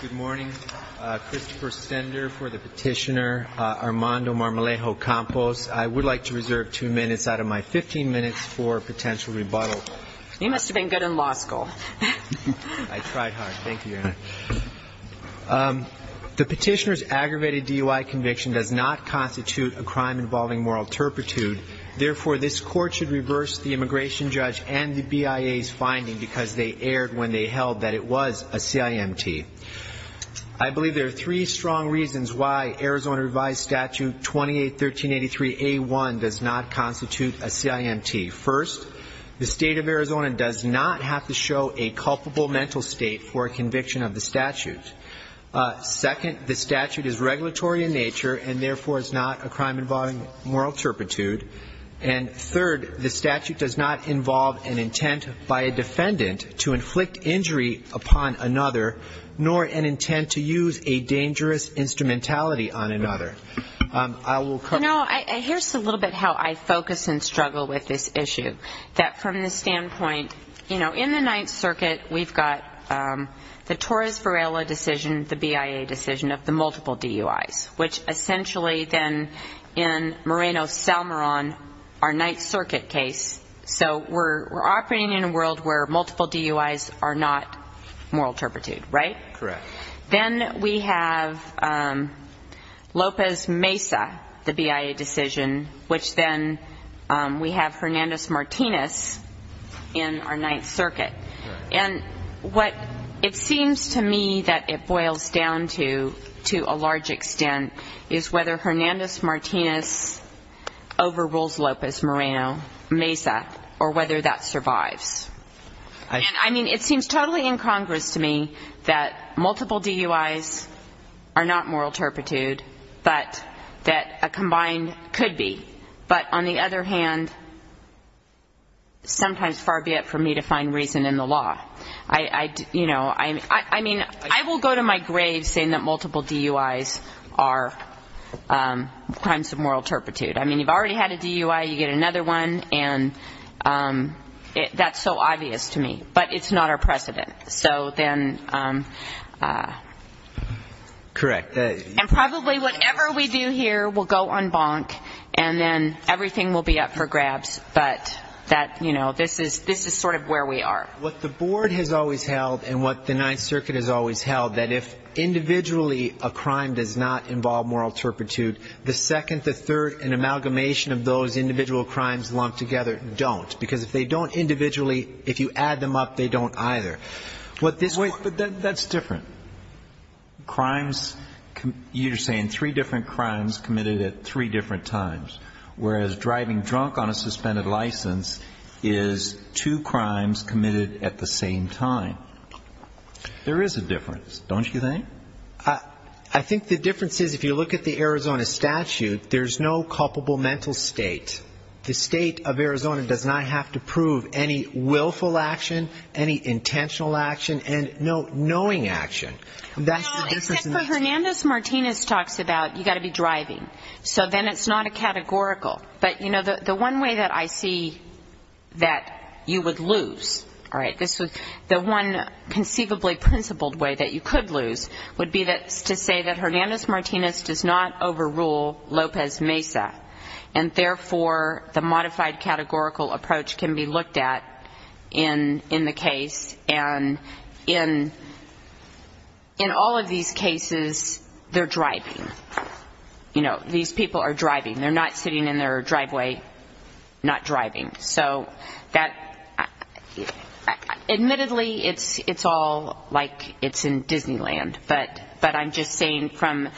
Good morning. Christopher Stender for the petitioner. Armando Marmolejo-Campos. I would like to reserve two minutes out of my 15 minutes for potential rebuttal. You must have been good in law school. I tried hard. Thank you, Your Honor. The petitioner's aggravated DUI conviction does not constitute a crime involving moral turpitude. Therefore, this court should reverse the immigration judge and the BIA's finding because they erred when they held that it was a CIMT. I believe there are three strong reasons why Arizona revised statute 281383A1 does not constitute a CIMT. First, the state of Arizona does not have to show a culpable mental state for a conviction of the statute. Second, the statute is regulatory in nature and, therefore, is not a crime involving moral turpitude. And third, the statute does not involve an intent by a defendant to inflict injury upon another nor an intent to use a dangerous instrumentality on another. No, here's a little bit how I focus and struggle with this issue. That from the standpoint, you know, in the Ninth Circuit, we've got the Torres Varela decision, the BIA decision of the multiple DUIs, which essentially then in Moreno-Salmoron, our Ninth Circuit case, so we're operating in a world where multiple DUIs are not moral turpitude, right? Correct. Then we have Lopez-Mesa, the BIA decision, which then we have Hernandez-Martinez in our Ninth Circuit. And what it seems to me that it boils down to, to a large extent, is whether Hernandez-Martinez overrules Lopez-Moreno-Mesa or whether that survives. And, I mean, it seems totally incongruous to me that multiple DUIs are not moral turpitude, but that a combined could be. But, on the other hand, sometimes far be it for me to find reason in the law. I, you know, I mean, I will go to my grave saying that multiple DUIs are crimes of moral turpitude. I mean, you've already had a DUI, you get another one, and that's so obvious to me. But it's not our precedent. So then... Correct. And probably whatever we do here will go on bonk, and then everything will be up for grabs. But that, you know, this is sort of where we are. What the board has always held and what the Ninth Circuit has always held, that if individually a crime does not involve moral turpitude, the second, the third, and amalgamation of those individual crimes lumped together don't. Because if they don't individually, if you add them up, they don't either. What this court... Wait, but that's different. Crimes, you're saying three different crimes committed at three different times, whereas driving drunk on a suspended license is two crimes committed at the same time. There is a difference, don't you think? I think the difference is if you look at the Arizona statute, there's no culpable mental state. The state of Arizona does not have to prove any willful action, any intentional action, and no knowing action. That's the difference. No, except for Hernandez-Martinez talks about you've got to be driving. So then it's not a categorical. But, you know, the one way that I see that you would lose, all right, the one conceivably principled way that you could lose would be to say that Hernandez-Martinez does not overrule Lopez Mesa, and therefore the modified categorical approach can be looked at in the case. And in all of these cases, they're driving. You know, these people are driving. They're not sitting in their driveway not driving. So that, admittedly, it's all like it's in Disneyland, but I'm just saying from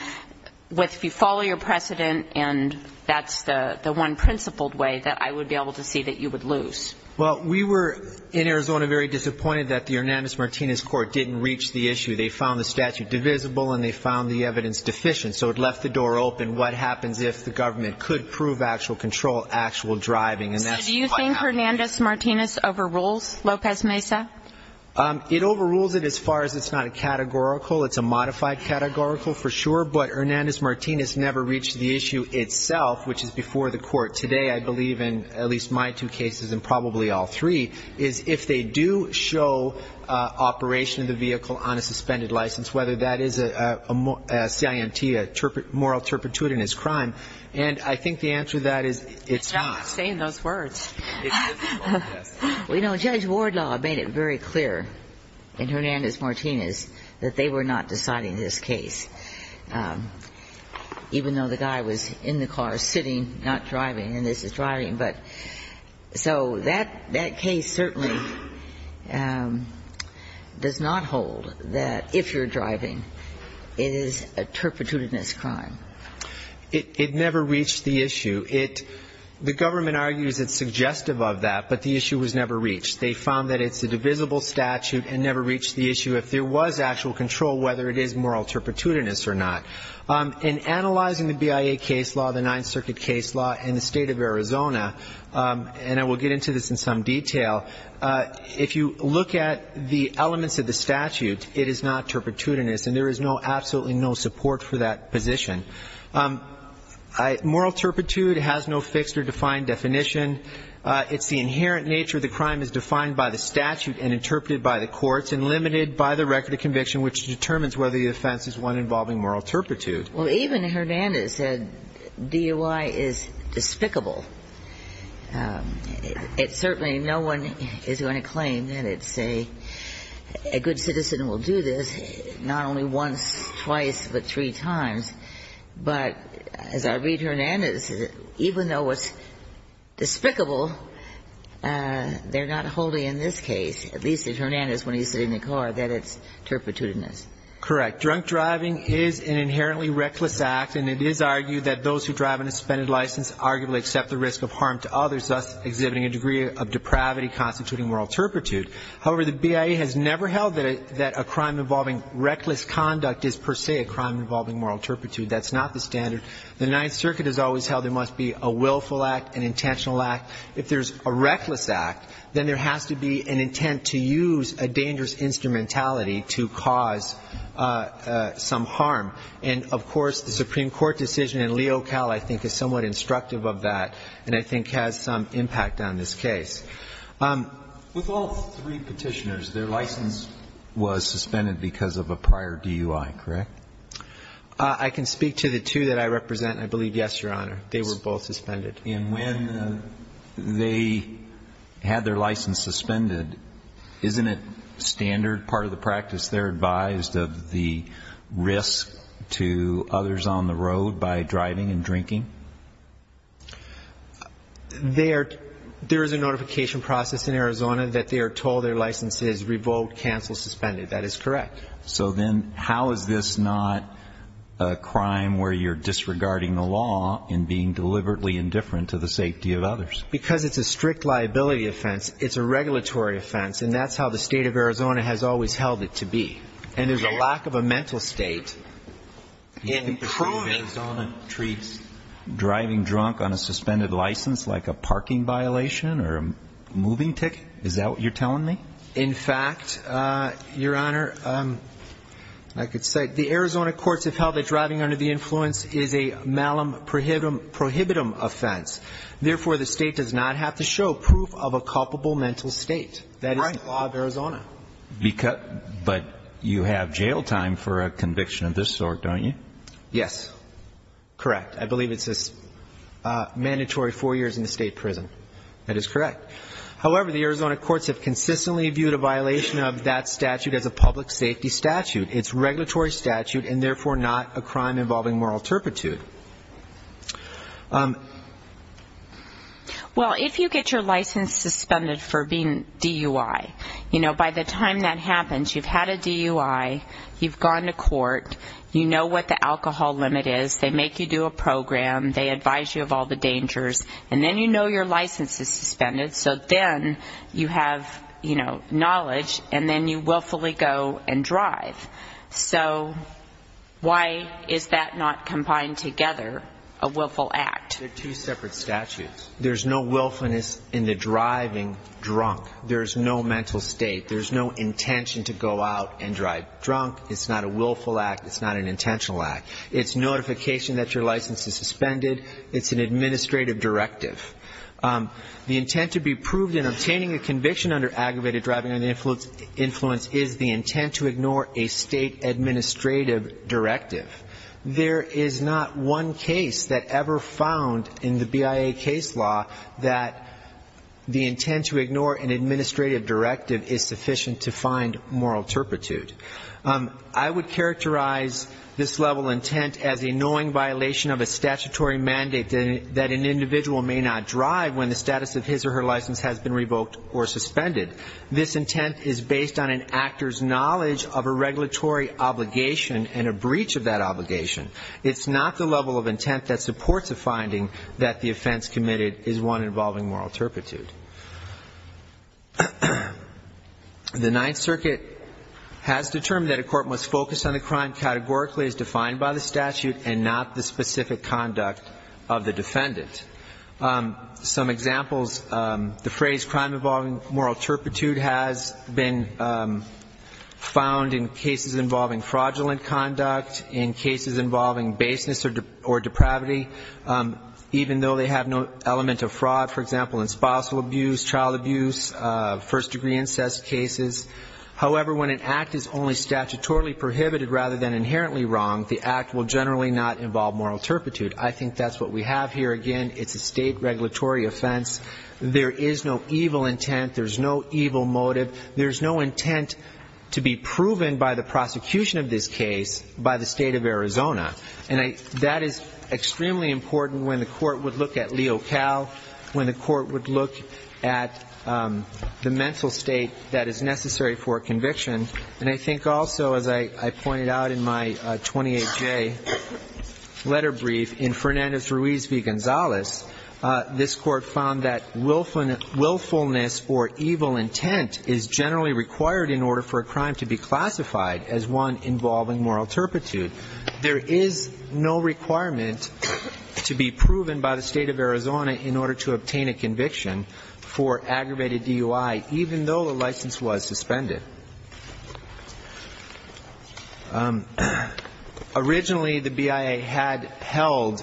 if you follow your precedent and that's the one principled way, that I would be able to see that you would lose. Well, we were in Arizona very disappointed that the Hernandez-Martinez court didn't reach the issue. They found the statute divisible, and they found the evidence deficient. So it left the door open. What happens if the government could prove actual control, actual driving? So do you think Hernandez-Martinez overrules Lopez Mesa? It overrules it as far as it's not a categorical. It's a modified categorical for sure. But Hernandez-Martinez never reached the issue itself, which is before the court today, I believe, in at least my two cases and probably all three, is if they do show operation of the vehicle on a suspended license, whether that is a CIMT, a moral turpitude in his crime. And I think the answer to that is it's not. You're not saying those words. Well, you know, Judge Wardlaw made it very clear in Hernandez-Martinez that they were not deciding this case, even though the guy was in the car sitting, not driving, and this is driving. But so that case certainly does not hold that if you're driving, it is a turpitude in his crime. It never reached the issue. The government argues it's suggestive of that, but the issue was never reached. They found that it's a divisible statute and never reached the issue if there was actual control, whether it is moral turpitudinous or not. In analyzing the BIA case law, the Ninth Circuit case law in the state of Arizona, and I will get into this in some detail, if you look at the elements of the statute, it is not turpitudinous, and there is absolutely no support for that position. Moral turpitude has no fixed or defined definition. It's the inherent nature of the crime is defined by the statute and interpreted by the courts and limited by the record of conviction, which determines whether the offense is one involving moral turpitude. Well, even Hernandez said DOI is despicable. It's certainly no one is going to claim that it's a good citizen will do this not only once, twice, but three times. But as I read Hernandez, even though it's despicable, they're not holding in this case, at least in Hernandez when he's sitting in the car, that it's turpitudinous. Correct. Drunk driving is an inherently reckless act, and it is argued that those who drive on a suspended license arguably accept the risk of harm to others, thus exhibiting a degree of depravity constituting moral turpitude. However, the BIA has never held that a crime involving reckless conduct is per se a crime involving moral turpitude. That's not the standard. The Ninth Circuit has always held there must be a willful act, an intentional act. If there's a reckless act, then there has to be an intent to use a dangerous instrumentality to cause some harm. And, of course, the Supreme Court decision in Leo Cal, I think, is somewhat instructive of that and I think has some impact on this case. With all three Petitioners, their license was suspended because of a prior DUI, correct? I can speak to the two that I represent, and I believe, yes, Your Honor, they were both suspended. And when they had their license suspended, isn't it standard part of the practice they're advised of the risk to others on the road by driving and drinking? There is a notification process in Arizona that they are told their license is revoked, canceled, suspended. That is correct. So then how is this not a crime where you're disregarding the law and being deliberately indifferent to the safety of others? Because it's a strict liability offense. It's a regulatory offense, and that's how the State of Arizona has always held it to be. And there's a lack of a mental state. You think the State of Arizona treats driving drunk on a suspended license like a parking violation or a moving ticket? Is that what you're telling me? In fact, Your Honor, I could say the Arizona courts have held that driving under the influence is a malum prohibitum offense. Therefore, the state does not have to show proof of a culpable mental state. That is the law of Arizona. But you have jail time for a conviction of this sort, don't you? Yes, correct. I believe it's a mandatory four years in the state prison. That is correct. However, the Arizona courts have consistently viewed a violation of that statute as a public safety statute. It's regulatory statute, and therefore not a crime involving moral turpitude. Well, if you get your license suspended for being DUI, you know, by the time that happens, you've had a DUI, you've gone to court, you know what the alcohol limit is, they make you do a program, they advise you of all the dangers, and then you know your license is suspended, so then you have, you know, knowledge, and then you willfully go and drive. So why is that not combined together, a willful act? They're two separate statutes. There's no willfulness in the driving drunk. There's no mental state. There's no intention to go out and drive drunk. It's not a willful act. It's not an intentional act. It's notification that your license is suspended. It's an administrative directive. The intent to be proved in obtaining a conviction under aggravated driving under the influence is the intent to ignore a state administrative directive. There is not one case that ever found in the BIA case law that the intent to ignore an administrative directive is sufficient to find moral turpitude. I would characterize this level of intent as a knowing violation of a statutory mandate that an individual may not drive when the status of his or her license has been revoked or suspended. This intent is based on an actor's knowledge of a regulatory obligation and a breach of that obligation. It's not the level of intent that supports a finding that the offense committed is one involving moral turpitude. The Ninth Circuit has determined that a court must focus on the crime categorically as part of the defendant. Some examples, the phrase crime involving moral turpitude has been found in cases involving fraudulent conduct, in cases involving baseness or depravity, even though they have no element of fraud, for example, in spousal abuse, child abuse, first-degree incest cases. However, when an act is only statutorily prohibited rather than inherently wrong, the act will generally not involve moral turpitude. I think that's what we have here. Again, it's a state regulatory offense. There is no evil intent. There's no evil motive. There's no intent to be proven by the prosecution of this case by the state of Arizona. And that is extremely important when the court would look at Leo Cal, when the court would look at the mental state that is necessary for a conviction. And I think also, as I pointed out in my 28-J letter brief, in Fernandez Ruiz v. Gonzalez, this court found that willfulness or evil intent is generally required in order for a crime to be classified as one involving moral turpitude. There is no requirement to be proven by the state of Arizona in order to obtain a conviction for aggravated DUI, even though the license was suspended. Originally, the BIA had held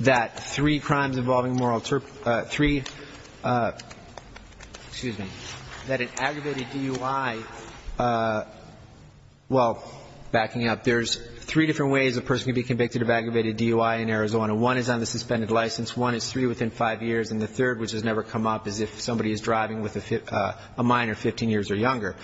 that three crimes involving moral turpitude, three, excuse me, that an aggravated DUI, well, backing up, there's three different ways a person can be convicted of aggravated DUI in Arizona. One is on the suspended license, one is three within five years, and the third, which has never come up, is if somebody is driving with a minor 15 years or younger.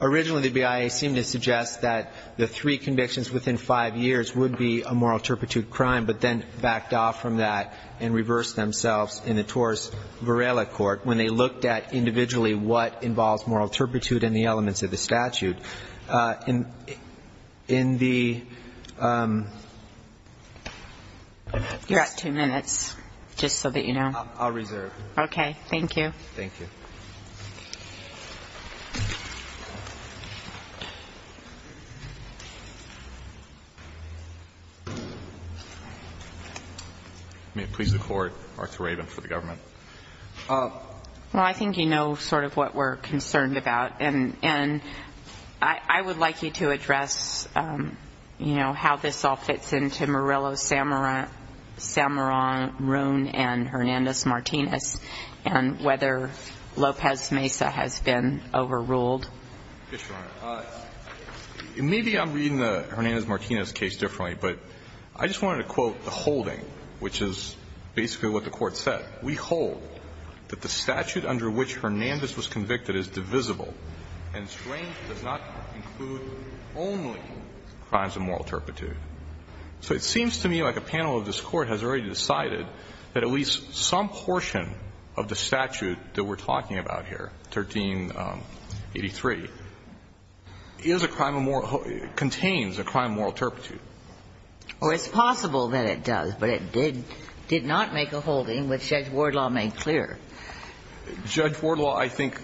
Originally, the BIA seemed to suggest that the three convictions within five years would be a moral turpitude crime, but then backed off from that and reversed themselves in the Torres-Varela Court when they looked at individually what involves moral turpitude and the elements of the statute. In the ‑‑ You're at two minutes, just so that you know. I'll reserve. Okay. Thank you. Thank you. May it please the Court, Martha Rabin for the government. Well, I think you know sort of what we're concerned about, and I would like you to address, you know, how this all fits into Murillo, Samara, Samara, Roon, and Hernandez‑Martinez and whether Lopez‑Mesa has been overruled. Yes, Your Honor. Maybe I'm reading the Hernandez‑Martinez case differently, but I just wanted to quote the quote that the court said. We hold that the statute under which Hernandez was convicted is divisible, and strange does not include only crimes of moral turpitude. So it seems to me like a panel of this Court has already decided that at least some portion of the statute that we're talking about here, 1383, is a crime of moral ‑‑ of moral turpitude. And I think that's what Judge Wardlaw made clear. Judge Wardlaw, I think,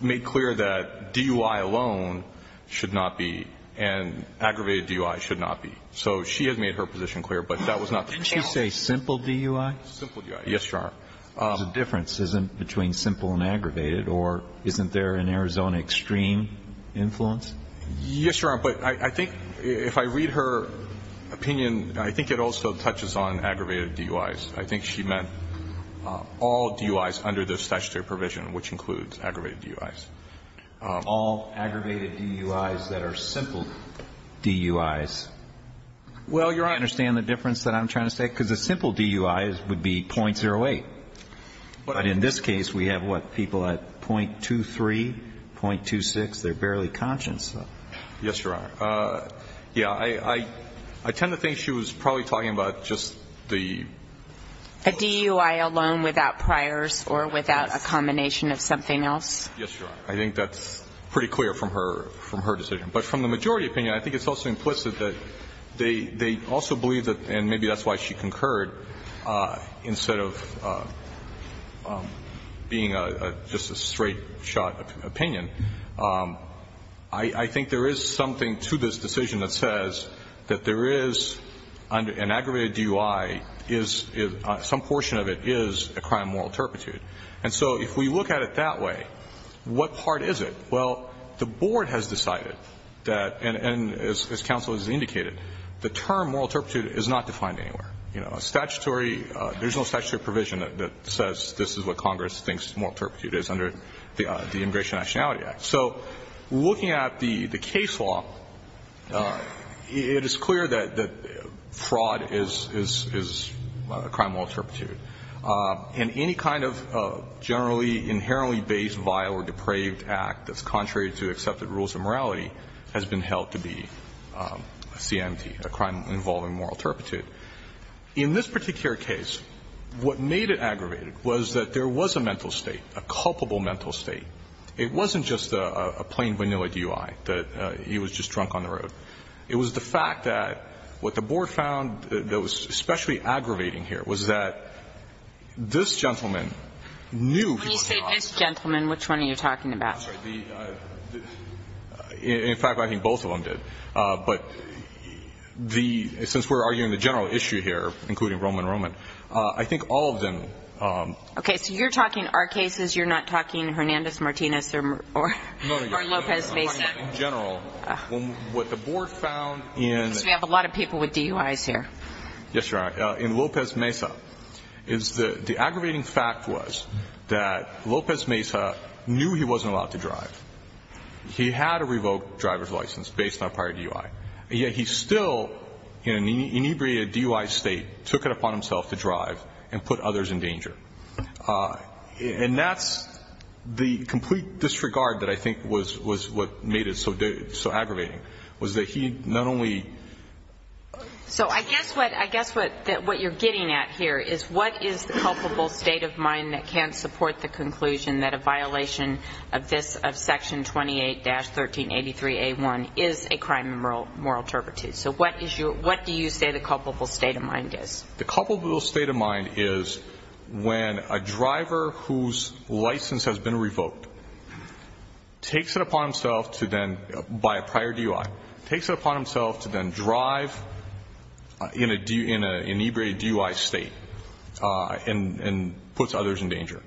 made clear that DUI alone should not be, and aggravated DUI should not be. So she has made her position clear, but that was not the case. Didn't she say simple DUI? Simple DUI. Yes, Your Honor. The difference isn't between simple and aggravated, or isn't there an Arizona extreme influence? Yes, Your Honor, but I think if I read her opinion, I think it also touches on aggravated DUIs. I think she meant all DUIs under this statutory provision, which includes aggravated DUIs. All aggravated DUIs that are simple DUIs. Well, Your Honor ‑‑ Do you understand the difference that I'm trying to say? Because a simple DUI would be .08. But in this case, we have, what, people at .23, .26. They're barely conscious. Yes, Your Honor. Yeah, I tend to think she was probably talking about just the ‑‑ A DUI alone without priors or without a combination of something else? Yes, Your Honor. I think that's pretty clear from her decision. But from the majority opinion, I think it's also implicit that they also believe that, and maybe that's why she concurred, instead of being just a straight shot opinion. I think there is something to this decision that says that there is an aggravated DUI is ‑‑ some portion of it is a crime of moral turpitude. And so if we look at it that way, what part is it? Well, the board has decided that, and as counsel has indicated, the term moral turpitude is not defined anywhere. You know, a statutory ‑‑ there's no statutory provision that says this is what Congress thinks moral turpitude is under the Immigration and Nationality Act. So looking at the case law, it is clear that fraud is a crime of moral turpitude. And any kind of generally inherently based vile or depraved act that's contrary to accepted rules of morality has been held to be a CMT, a crime involving moral turpitude. In this particular case, what made it aggravated was that there was a mental state, a culpable mental state. It wasn't just a plain vanilla DUI, that he was just drunk on the road. It was the fact that what the board found that was especially aggravating here was that this gentleman knew he was drunk. When you say this gentleman, which one are you talking about? I'm sorry, the ‑‑ in fact, I think both of them did. But the ‑‑ since we're arguing the general issue here, including Roman Roman, I think all of them ‑‑ Okay, so you're talking our cases. You're not talking Hernandez-Martinez or Mar ‑‑ or Lopez-Mazet. No, no, no, I'm talking in general. What the board found in ‑‑ Because we have a lot of people with DUIs here. Yes, Your Honor. In Lopez-Mazet, the aggravating fact was that Lopez-Mazet knew he wasn't allowed to drive. He had a revoked driver's license based on a prior DUI, yet he still in an inebriated DUI state took it upon himself to drive and put others in danger. And that's the complete disregard that I think was what made it so aggravating, was that he not only ‑‑ So I guess what ‑‑ I guess what you're getting at here is what is the culpable state of mind that can't support the conclusion that a violation of this, of Section 28-1383A1, is a crime of moral turpitude. So what is your ‑‑ what do you say the culpable state of mind is? The culpable state of mind is when a driver whose license has been revoked takes it upon himself to then, by a prior DUI, takes it upon himself to then drive in an inebriated DUI state and puts others in danger.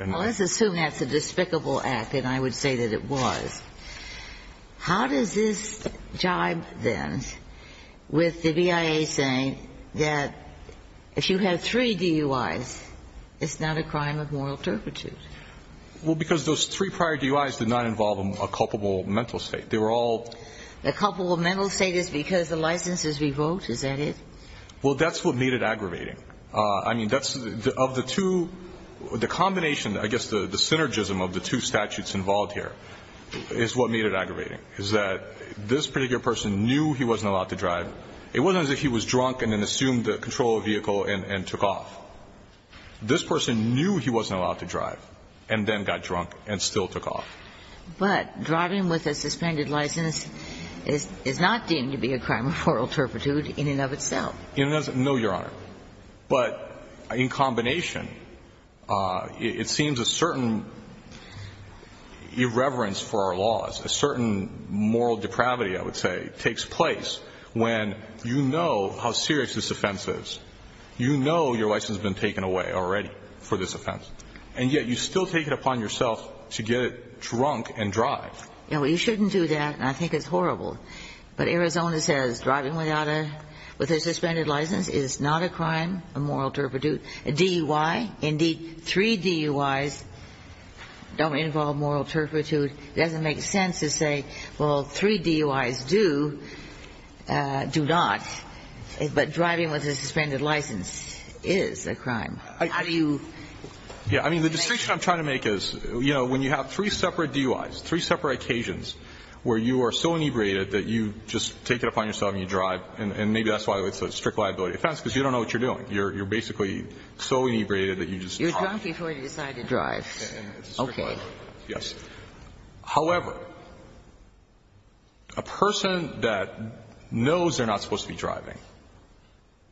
Well, let's assume that's a despicable act, and I would say that it was. How does this jibe, then, with the BIA saying that if you have three DUIs, it's not a crime of moral turpitude? Well, because those three prior DUIs did not involve a culpable mental state. They were all ‑‑ The culpable mental state is because the license is revoked? Is that it? Well, that's what made it aggravating. I mean, that's ‑‑ of the two, the combination, I guess, the synergism of the two statutes involved here is what made it aggravating, is that this particular person knew he wasn't allowed to drive. It wasn't as if he was drunk and then assumed the control of the vehicle and took off. This person knew he wasn't allowed to drive and then got drunk and still took off. But driving with a suspended license is not deemed to be a crime of moral turpitude in and of itself. No, Your Honor. But in combination, it seems a certain irreverence for our laws, a certain moral depravity, I would say, takes place when you know how serious this offense is. You know your license has been taken away already for this offense. And yet you still take it upon yourself to get drunk and drive. Yeah, well, you shouldn't do that, and I think it's horrible. But Arizona says driving without a ‑‑ with a suspended license is not a crime of moral turpitude. A DUI, indeed, three DUIs don't involve moral turpitude. It doesn't make sense to say, well, three DUIs do, do not. But driving with a suspended license is a crime. How do you ‑‑ Yeah. I mean, the distinction I'm trying to make is, you know, when you have three separate DUIs, three separate occasions where you are so inebriated that you just take it upon yourself and you drive, and maybe that's why it's a strict liability offense, because you don't know what you're doing. You're basically so inebriated that you just talk. You're drunk before you decide to drive. Okay. Yes. However, a person that knows they're not supposed to be driving,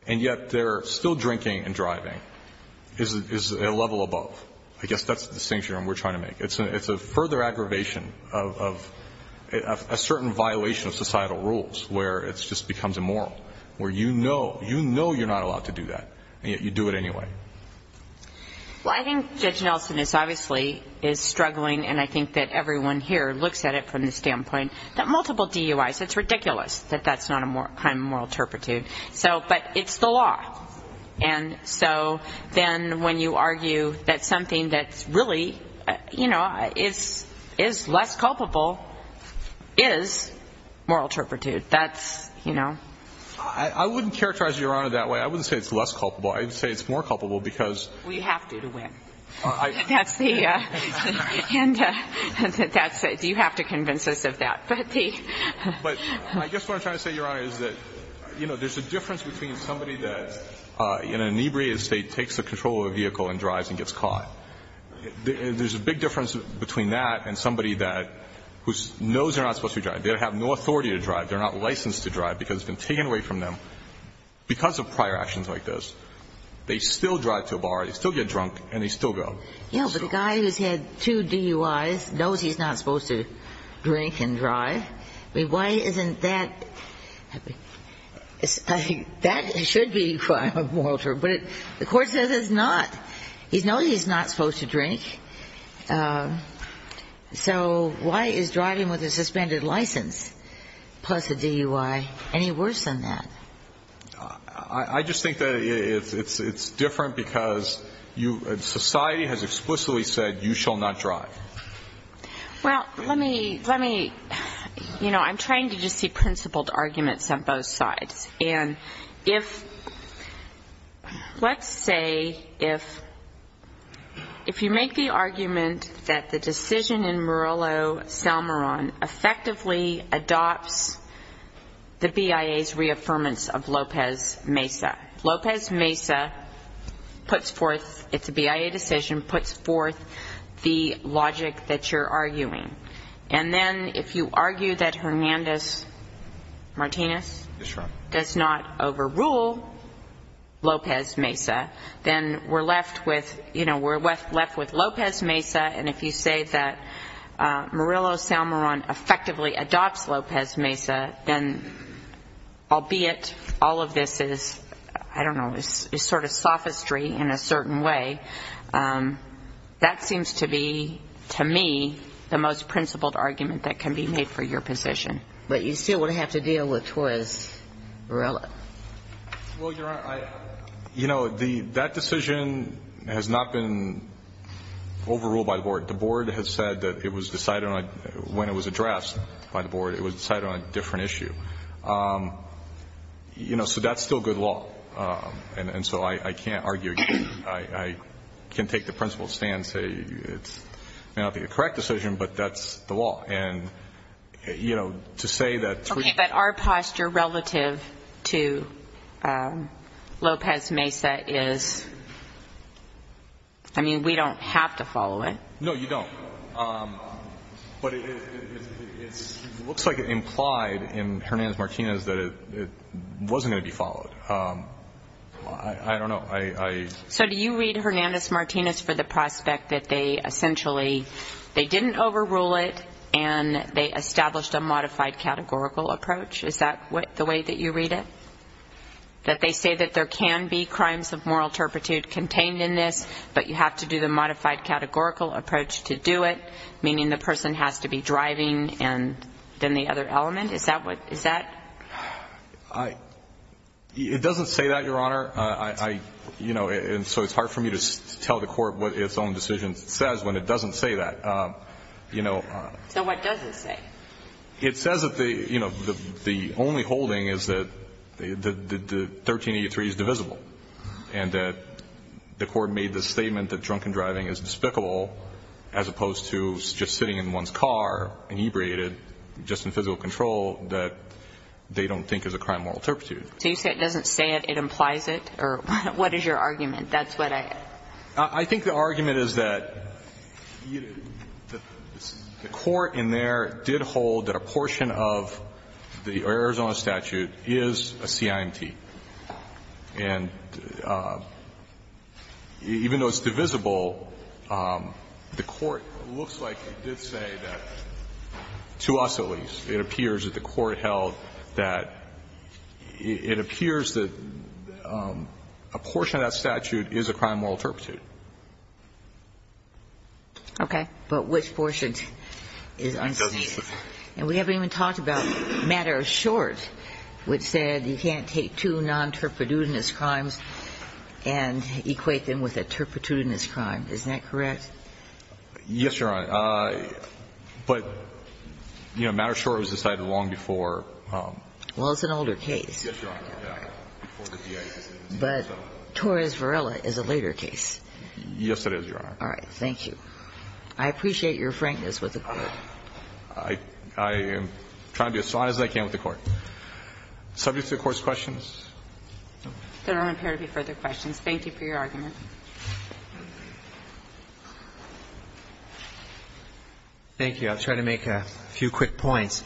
and yet they're still drinking and driving, is a level above. I guess that's the distinction we're trying to make. It's a further aggravation of a certain violation of societal rules where it just becomes immoral, where you know, you know you're not allowed to do that, and yet you do it anyway. Well, I think Judge Nelson is obviously is struggling, and I think that everyone here looks at it from the standpoint that multiple DUIs, it's ridiculous that that's not a kind of moral turpitude. So, but it's the law. And so then when you argue that something that's really, you know, is less culpable is moral turpitude. That's, you know. I wouldn't characterize Your Honor that way. I wouldn't say it's less culpable. I'd say it's more culpable because. We have to to win. That's the. And that's it. You have to convince us of that. But the. But I guess what I'm trying to say, Your Honor, is that, you know, there's a difference between somebody that in an inebriated state takes the control of a vehicle and drives and gets caught. There's a big difference between that and somebody that knows they're not supposed to be driving. They have no authority to drive. They're not licensed to drive because it's been taken away from them because of prior actions like this. They still drive to a bar. They still get drunk. And they still go. Yeah. But the guy who's had two DUIs knows he's not supposed to drink and drive. I mean, why isn't that. That should be a moral turpitude. But the court says it's not. He knows he's not supposed to drink. So why is driving with a suspended license plus a DUI any worse than that? I just think that it's different because society has explicitly said you shall not drive. Well, let me, you know, I'm trying to just see principled arguments on both sides. And if, let's say if you make the argument that the decision in Morello-Salmoron effectively adopts the BIA's reaffirmance of Lopez-Mesa. Lopez-Mesa puts forth, it's a BIA decision, puts forth the logic that you're arguing. And then if you argue that Hernandez-Martinez does not overrule Lopez-Mesa, then we're left with, you know, we're left with Lopez-Mesa. And if you say that Morello-Salmoron effectively adopts Lopez-Mesa, then albeit all of this is, I don't know, is sort of sophistry in a certain way, that seems to be, to me, the most principled argument that can be made for your position. But you still would have to deal with Torres-Morello. Well, Your Honor, I, you know, that decision has not been overruled by the board. The board has said that it was decided on, when it was addressed by the board, it was decided on a different issue. You know, so that's still good law. And so I can't argue, I can take the principled stand and say it may not be the correct decision, but that's the law. And, you know, to say that we that our posture relative to Lopez-Mesa is, I mean, we don't have to follow it. No, you don't. But it looks like it implied in Hernandez-Martinez that it wasn't going to be followed. I don't know. So do you read Hernandez-Martinez for the prospect that they essentially, they established a modified categorical approach? Is that the way that you read it? That they say that there can be crimes of moral turpitude contained in this, but you have to do the modified categorical approach to do it, meaning the person has to be driving and then the other element? Is that what, is that? I, it doesn't say that, Your Honor. I, you know, and so it's hard for me to tell the court what its own decision says when it doesn't say that. You know. So what does it say? It says that the, you know, the only holding is that the 1383 is divisible and that the court made the statement that drunken driving is despicable as opposed to just sitting in one's car inebriated just in physical control that they don't think is a crime of moral turpitude. So you say it doesn't say it, it implies it? Or what is your argument? That's what I. I think the argument is that the court in there did hold that a portion of the Arizona statute is a CIMT. And even though it's divisible, the court looks like it did say that, to us at least, it appears that the court held that it appears that a portion of that statute is a crime of moral turpitude. Okay. But which portion is unseceded? And we haven't even talked about Matters Short, which said you can't take two non-turpidudinous crimes and equate them with a turpidudinous crime. Isn't that correct? Yes, Your Honor. But, you know, Matters Short was decided long before. Well, it's an older case. Yes, Your Honor. But Torres-Varela is a later case. Yes, it is, Your Honor. All right. Thank you. I appreciate your frankness with the court. I am trying to be as honest as I can with the court. Subject to the Court's questions? There don't appear to be further questions. Thank you for your argument. Thank you. I'll try to make a few quick points.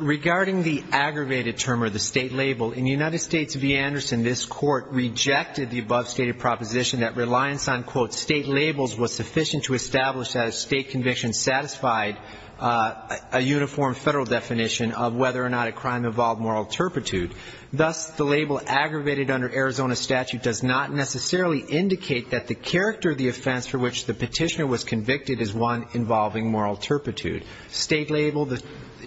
Regarding the aggravated term or the state label, in United States v. Anderson, this Court rejected the above stated proposition that reliance on, quote, state labels was sufficient to establish that a state conviction satisfied a uniform federal definition of whether or not a crime involved moral turpitude. Thus, the label aggravated under Arizona statute does not necessarily indicate that the character of the offense for which the petitioner was convicted is one involving moral turpitude. State label,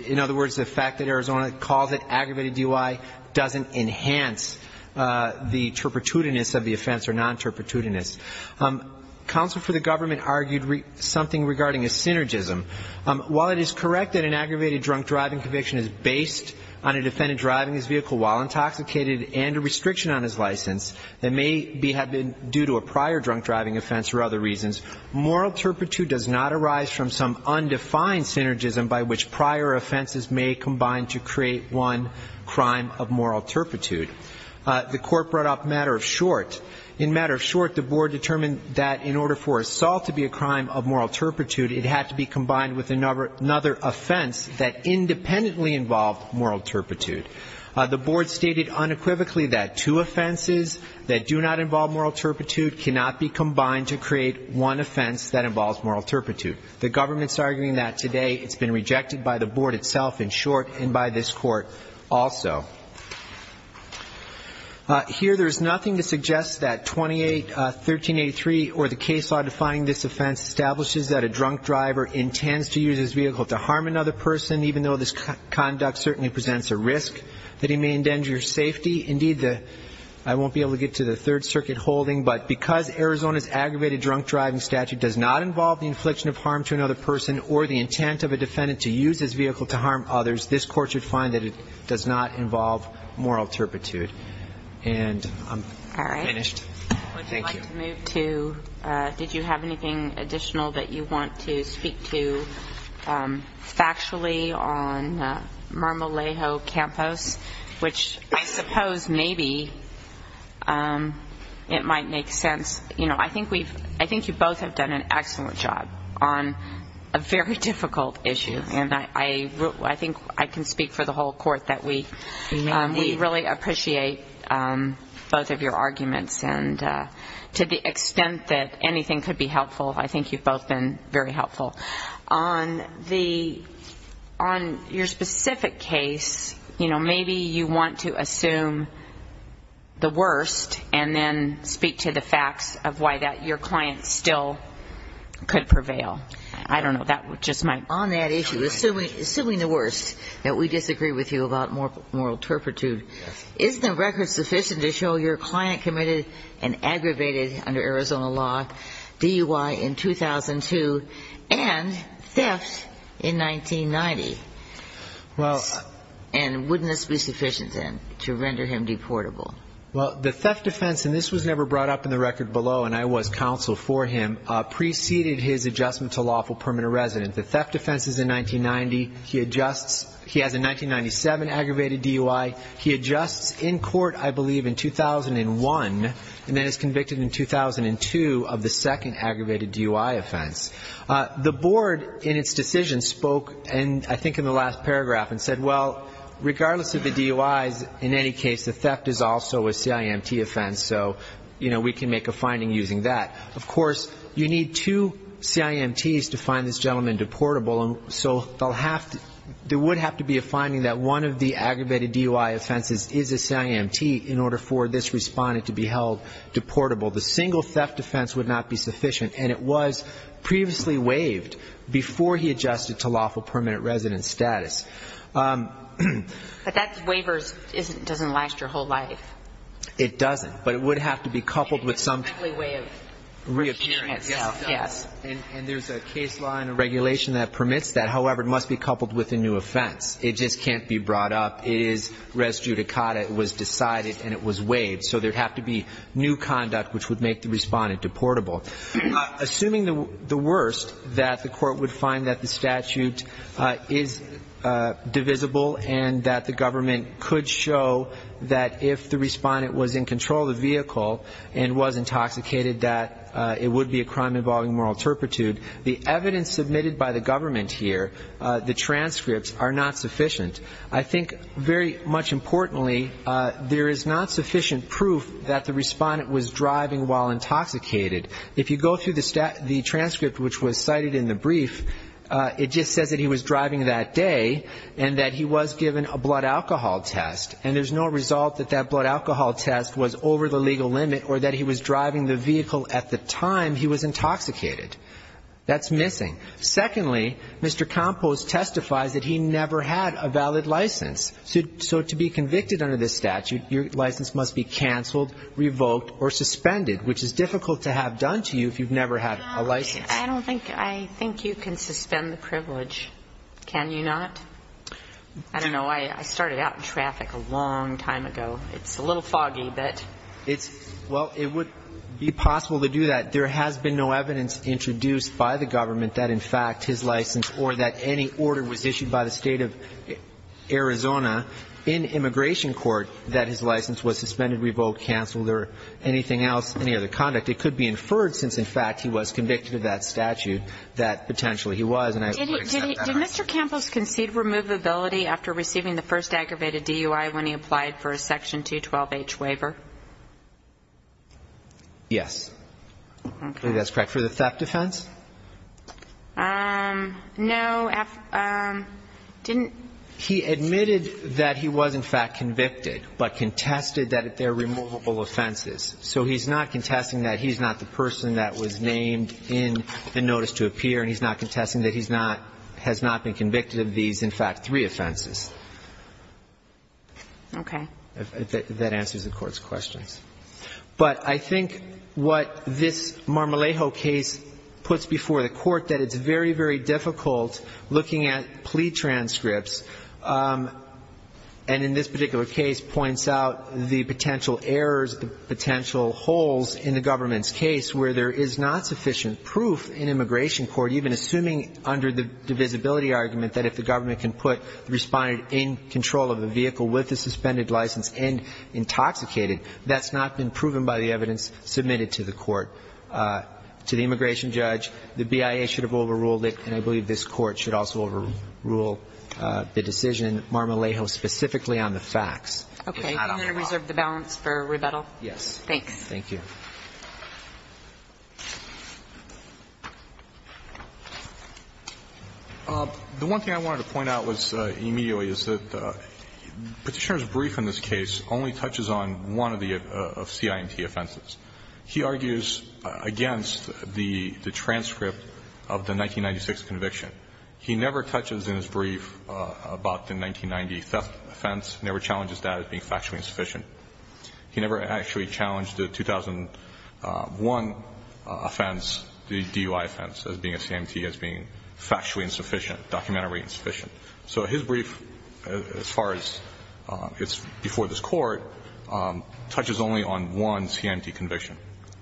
in other words, the fact that Arizona calls it aggravated DUI, doesn't enhance the turpitudinous of the offense or non-turpitudinous. Counsel for the government argued something regarding a synergism. While it is correct that an aggravated drunk driving conviction is based on a defendant driving his vehicle while intoxicated and a restriction on his license that may have been due to a prior drunk driving offense or other reasons, moral turpitude does not arise from some undefined synergism by which prior offenses may combine to create one crime of moral turpitude. The Court brought up matter of short. In matter of short, the Board determined that in order for assault to be a crime of moral turpitude, it had to be combined with another offense that independently involved moral turpitude. The Board stated unequivocally that two offenses that do not involve moral turpitude cannot be combined to create one offense that involves moral turpitude. The government's arguing that today. It's been rejected by the Board itself, in short, and by this Court also. Here there is nothing to suggest that 281383 or the case law defining this offense establishes that a drunk driver intends to use his vehicle to harm another person, even though this conduct certainly presents a risk that he may endanger safety. Indeed, I won't be able to get to the Third Circuit holding, but because Arizona's aggravated drunk driving statute does not involve the infliction of harm to another person or the intent of a defendant to use his vehicle to harm others, this Court should find that it does not involve moral turpitude. And I'm finished. Thank you. All right. Would you like to move to, did you have anything additional that you want to speak to factually on Marmolejo Campos, which I suppose maybe it might make sense. You know, I think you both have done an excellent job on a very difficult issue, and I think I can speak for the whole Court that we really appreciate both of your arguments. And to the extent that anything could be helpful, I think you've both been very helpful. On the, on your specific case, you know, maybe you want to assume the worst and then speak to the facts of why that your client still could prevail. I don't know. That just might. On that issue, assuming the worst, that we disagree with you about moral turpitude, is the record sufficient to show your client committed an aggravated, under Arizona law, DUI in 2002, and theft in 1990? And wouldn't this be sufficient, then, to render him deportable? Well, the theft offense, and this was never brought up in the record below, and I was counsel for him, preceded his adjustment to lawful permanent residence. The theft offense is in 1990. He adjusts. He has a 1997 aggravated DUI. He adjusts in court, I believe, in 2001, and then is convicted in 2002 of the second aggravated DUI offense. The board, in its decision, spoke, I think in the last paragraph, and said, well, regardless of the DUIs, in any case, the theft is also a CIMT offense, so, you know, we can make a finding using that. Of course, you need two CIMTs to find this gentleman deportable, and so there would have to be a finding that one of the aggravated DUI offenses is a CIMT in order for this respondent to be held deportable. The single theft offense would not be sufficient, and it was previously waived before he adjusted to lawful permanent residence status. But that waiver doesn't last your whole life. It doesn't, but it would have to be coupled with something. It would be a deadly way of changing itself, yes. And there's a case law and a regulation that permits that. However, it must be coupled with a new offense. It just can't be brought up. It is res judicata. It was decided and it was waived. So there would have to be new conduct which would make the respondent deportable. Assuming the worst, that the court would find that the statute is divisible and that the government could show that if the respondent was in control of the vehicle and was intoxicated that it would be a crime involving moral turpitude, the evidence submitted by the government here, the transcripts, are not sufficient. I think very much importantly, there is not sufficient proof that the respondent was driving while intoxicated. If you go through the transcript which was cited in the brief, it just says that he was driving that day and that he was given a blood alcohol test, and there's no result that that blood alcohol test was over the legal limit or that he was driving the vehicle at the time he was intoxicated. That's missing. Secondly, Mr. Kompos testifies that he never had a valid license. So to be convicted under this statute, your license must be canceled, revoked or suspended, which is difficult to have done to you if you've never had a license. I don't think you can suspend the privilege. Can you not? I don't know. I started out in traffic a long time ago. It's a little foggy, but it's. Well, it would be possible to do that. There has been no evidence introduced by the government that, in fact, his license or that any order was issued by the State of Arizona in immigration court that his license was suspended, revoked, canceled or anything else, any other conduct. It could be inferred since, in fact, he was convicted of that statute that potentially he was. Did Mr. Kompos concede removability after receiving the first aggravated DUI when he applied for a section 212H waiver? Yes. That's correct. For the theft offense? No. Didn't. He admitted that he was, in fact, convicted, but contested that they're removable offenses. So he's not contesting that he's not the person that was named in the notice to appear, and he's not contesting that he's not, has not been convicted of these, in fact, three offenses. Okay. That answers the Court's questions. But I think what this Marmolejo case puts before the Court, that it's very, very difficult looking at plea transcripts, and in this particular case points out the potential errors, the potential holes in the government's case where there is not sufficient proof in immigration court, even assuming under the divisibility argument that if the government can put the respondent in control of the vehicle with the suspended license and intoxicated, that's not been proven by the evidence submitted to the court. To the immigration judge, the BIA should have overruled it, and I believe this Court should also overrule the decision, Marmolejo specifically, on the facts. Okay. Can I reserve the balance for rebuttal? Yes. Thanks. Thank you. The one thing I wanted to point out was immediately is that Petitioner's brief in this case only touches on one of the CIMT offenses. He argues against the transcript of the 1996 conviction. He never touches in his brief about the 1990 theft offense, never challenges that as being factually insufficient. He never actually challenged the 2001 offense, the DUI offense, as being a CIMT, as being factually insufficient, documentarily insufficient. So his brief, as far as it's before this Court, touches only on one CIMT conviction.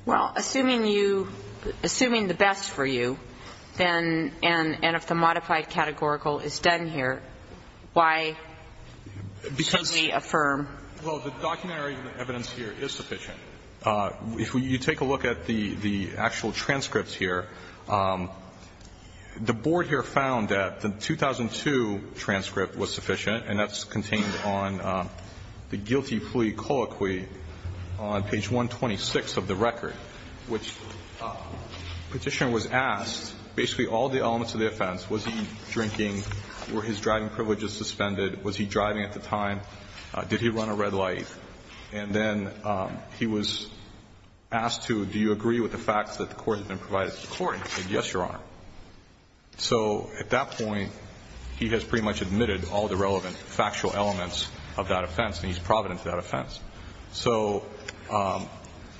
Well, assuming you – assuming the best for you, then – and if the modified categorical is done here, why should we affirm? Well, the documentary evidence here is sufficient. If you take a look at the actual transcripts here, the board here found that the 2002 transcript was sufficient, and that's contained on the guilty plea colloquy on page 126 of the record, which Petitioner was asked basically all the elements of the offense, was he drinking, were his driving privileges suspended, was he driving at the time, did he run a red light, and then he was asked, do you agree with the facts that the Court has been provided to the Court? He said, yes, Your Honor. So at that point, he has pretty much admitted all the relevant factual elements of that offense, and he's provident of that offense. So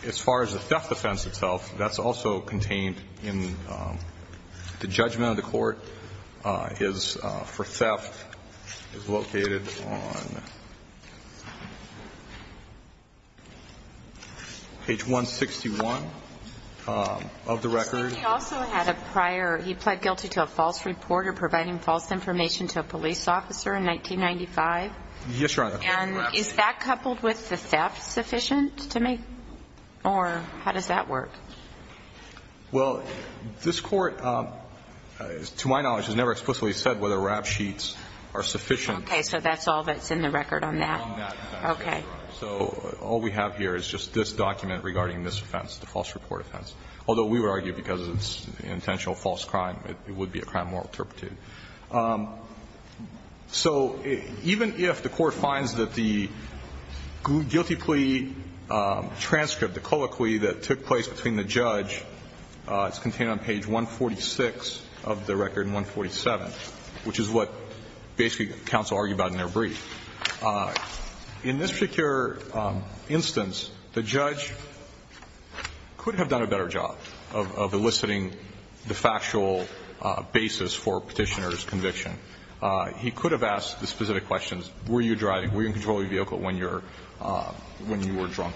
as far as the theft offense itself, that's also contained in the judgment of the record, which is on page 161 of the record. He also had a prior – he pled guilty to a false report or providing false information to a police officer in 1995? Yes, Your Honor. And is that coupled with the theft sufficient to make – or how does that work? Well, this Court, to my knowledge, has never explicitly said whether rap sheets are sufficient. Okay. So that's all that's in the record on that? On that offense, Your Honor. Okay. So all we have here is just this document regarding this offense, the false report offense, although we would argue because it's an intentional false crime, it would be a crime morally interpreted. So even if the Court finds that the guilty plea transcript, the co-acquittal plea that took place between the judge, it's contained on page 146 of the record and 147, which is what basically counsel argued about in their brief. In this particular instance, the judge could have done a better job of eliciting the factual basis for Petitioner's conviction. He could have asked the specific questions. Were you driving? Were you in control of your vehicle when you were drunk?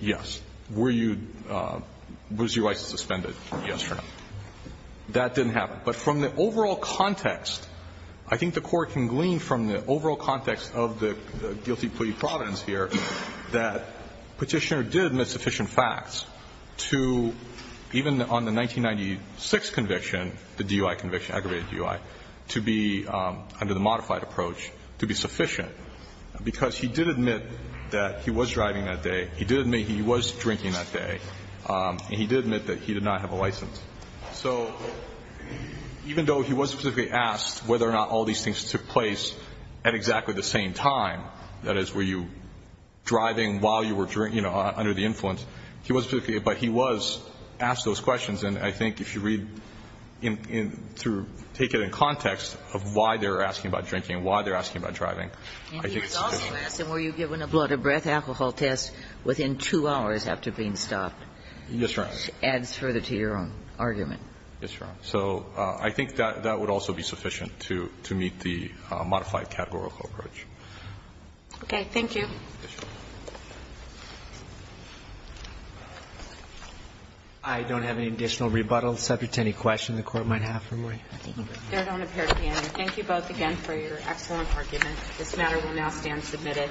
Yes. Were you – was your license suspended? Yes or no. That didn't happen. But from the overall context, I think the Court can glean from the overall context of the guilty plea providence here that Petitioner did admit sufficient facts to, even on the 1996 conviction, the DUI conviction, aggravated DUI, to be, under the modified approach, to be sufficient, because he did admit that he was driving that day, he did admit he was drinking that day, and he did admit that he did not have a license. So even though he was specifically asked whether or not all these things took place at exactly the same time, that is, were you driving while you were drinking, you know, under the influence, he was specifically – but he was asked those questions. And I think if you read in – through – take it in context of why they're asking about drinking, why they're asking about driving, I think it's a good point. And he was also asked, were you given a blood or breath alcohol test within two hours after being stopped? Yes, Your Honor. Which adds further to your own argument. Yes, Your Honor. So I think that would also be sufficient to meet the modified categorical approach. Okay. Thank you. Yes, Your Honor. I don't have any additional rebuttals. If there's any questions the Court might have for me. There don't appear to be any. Thank you both again for your excellent argument. This matter will now stand submitted.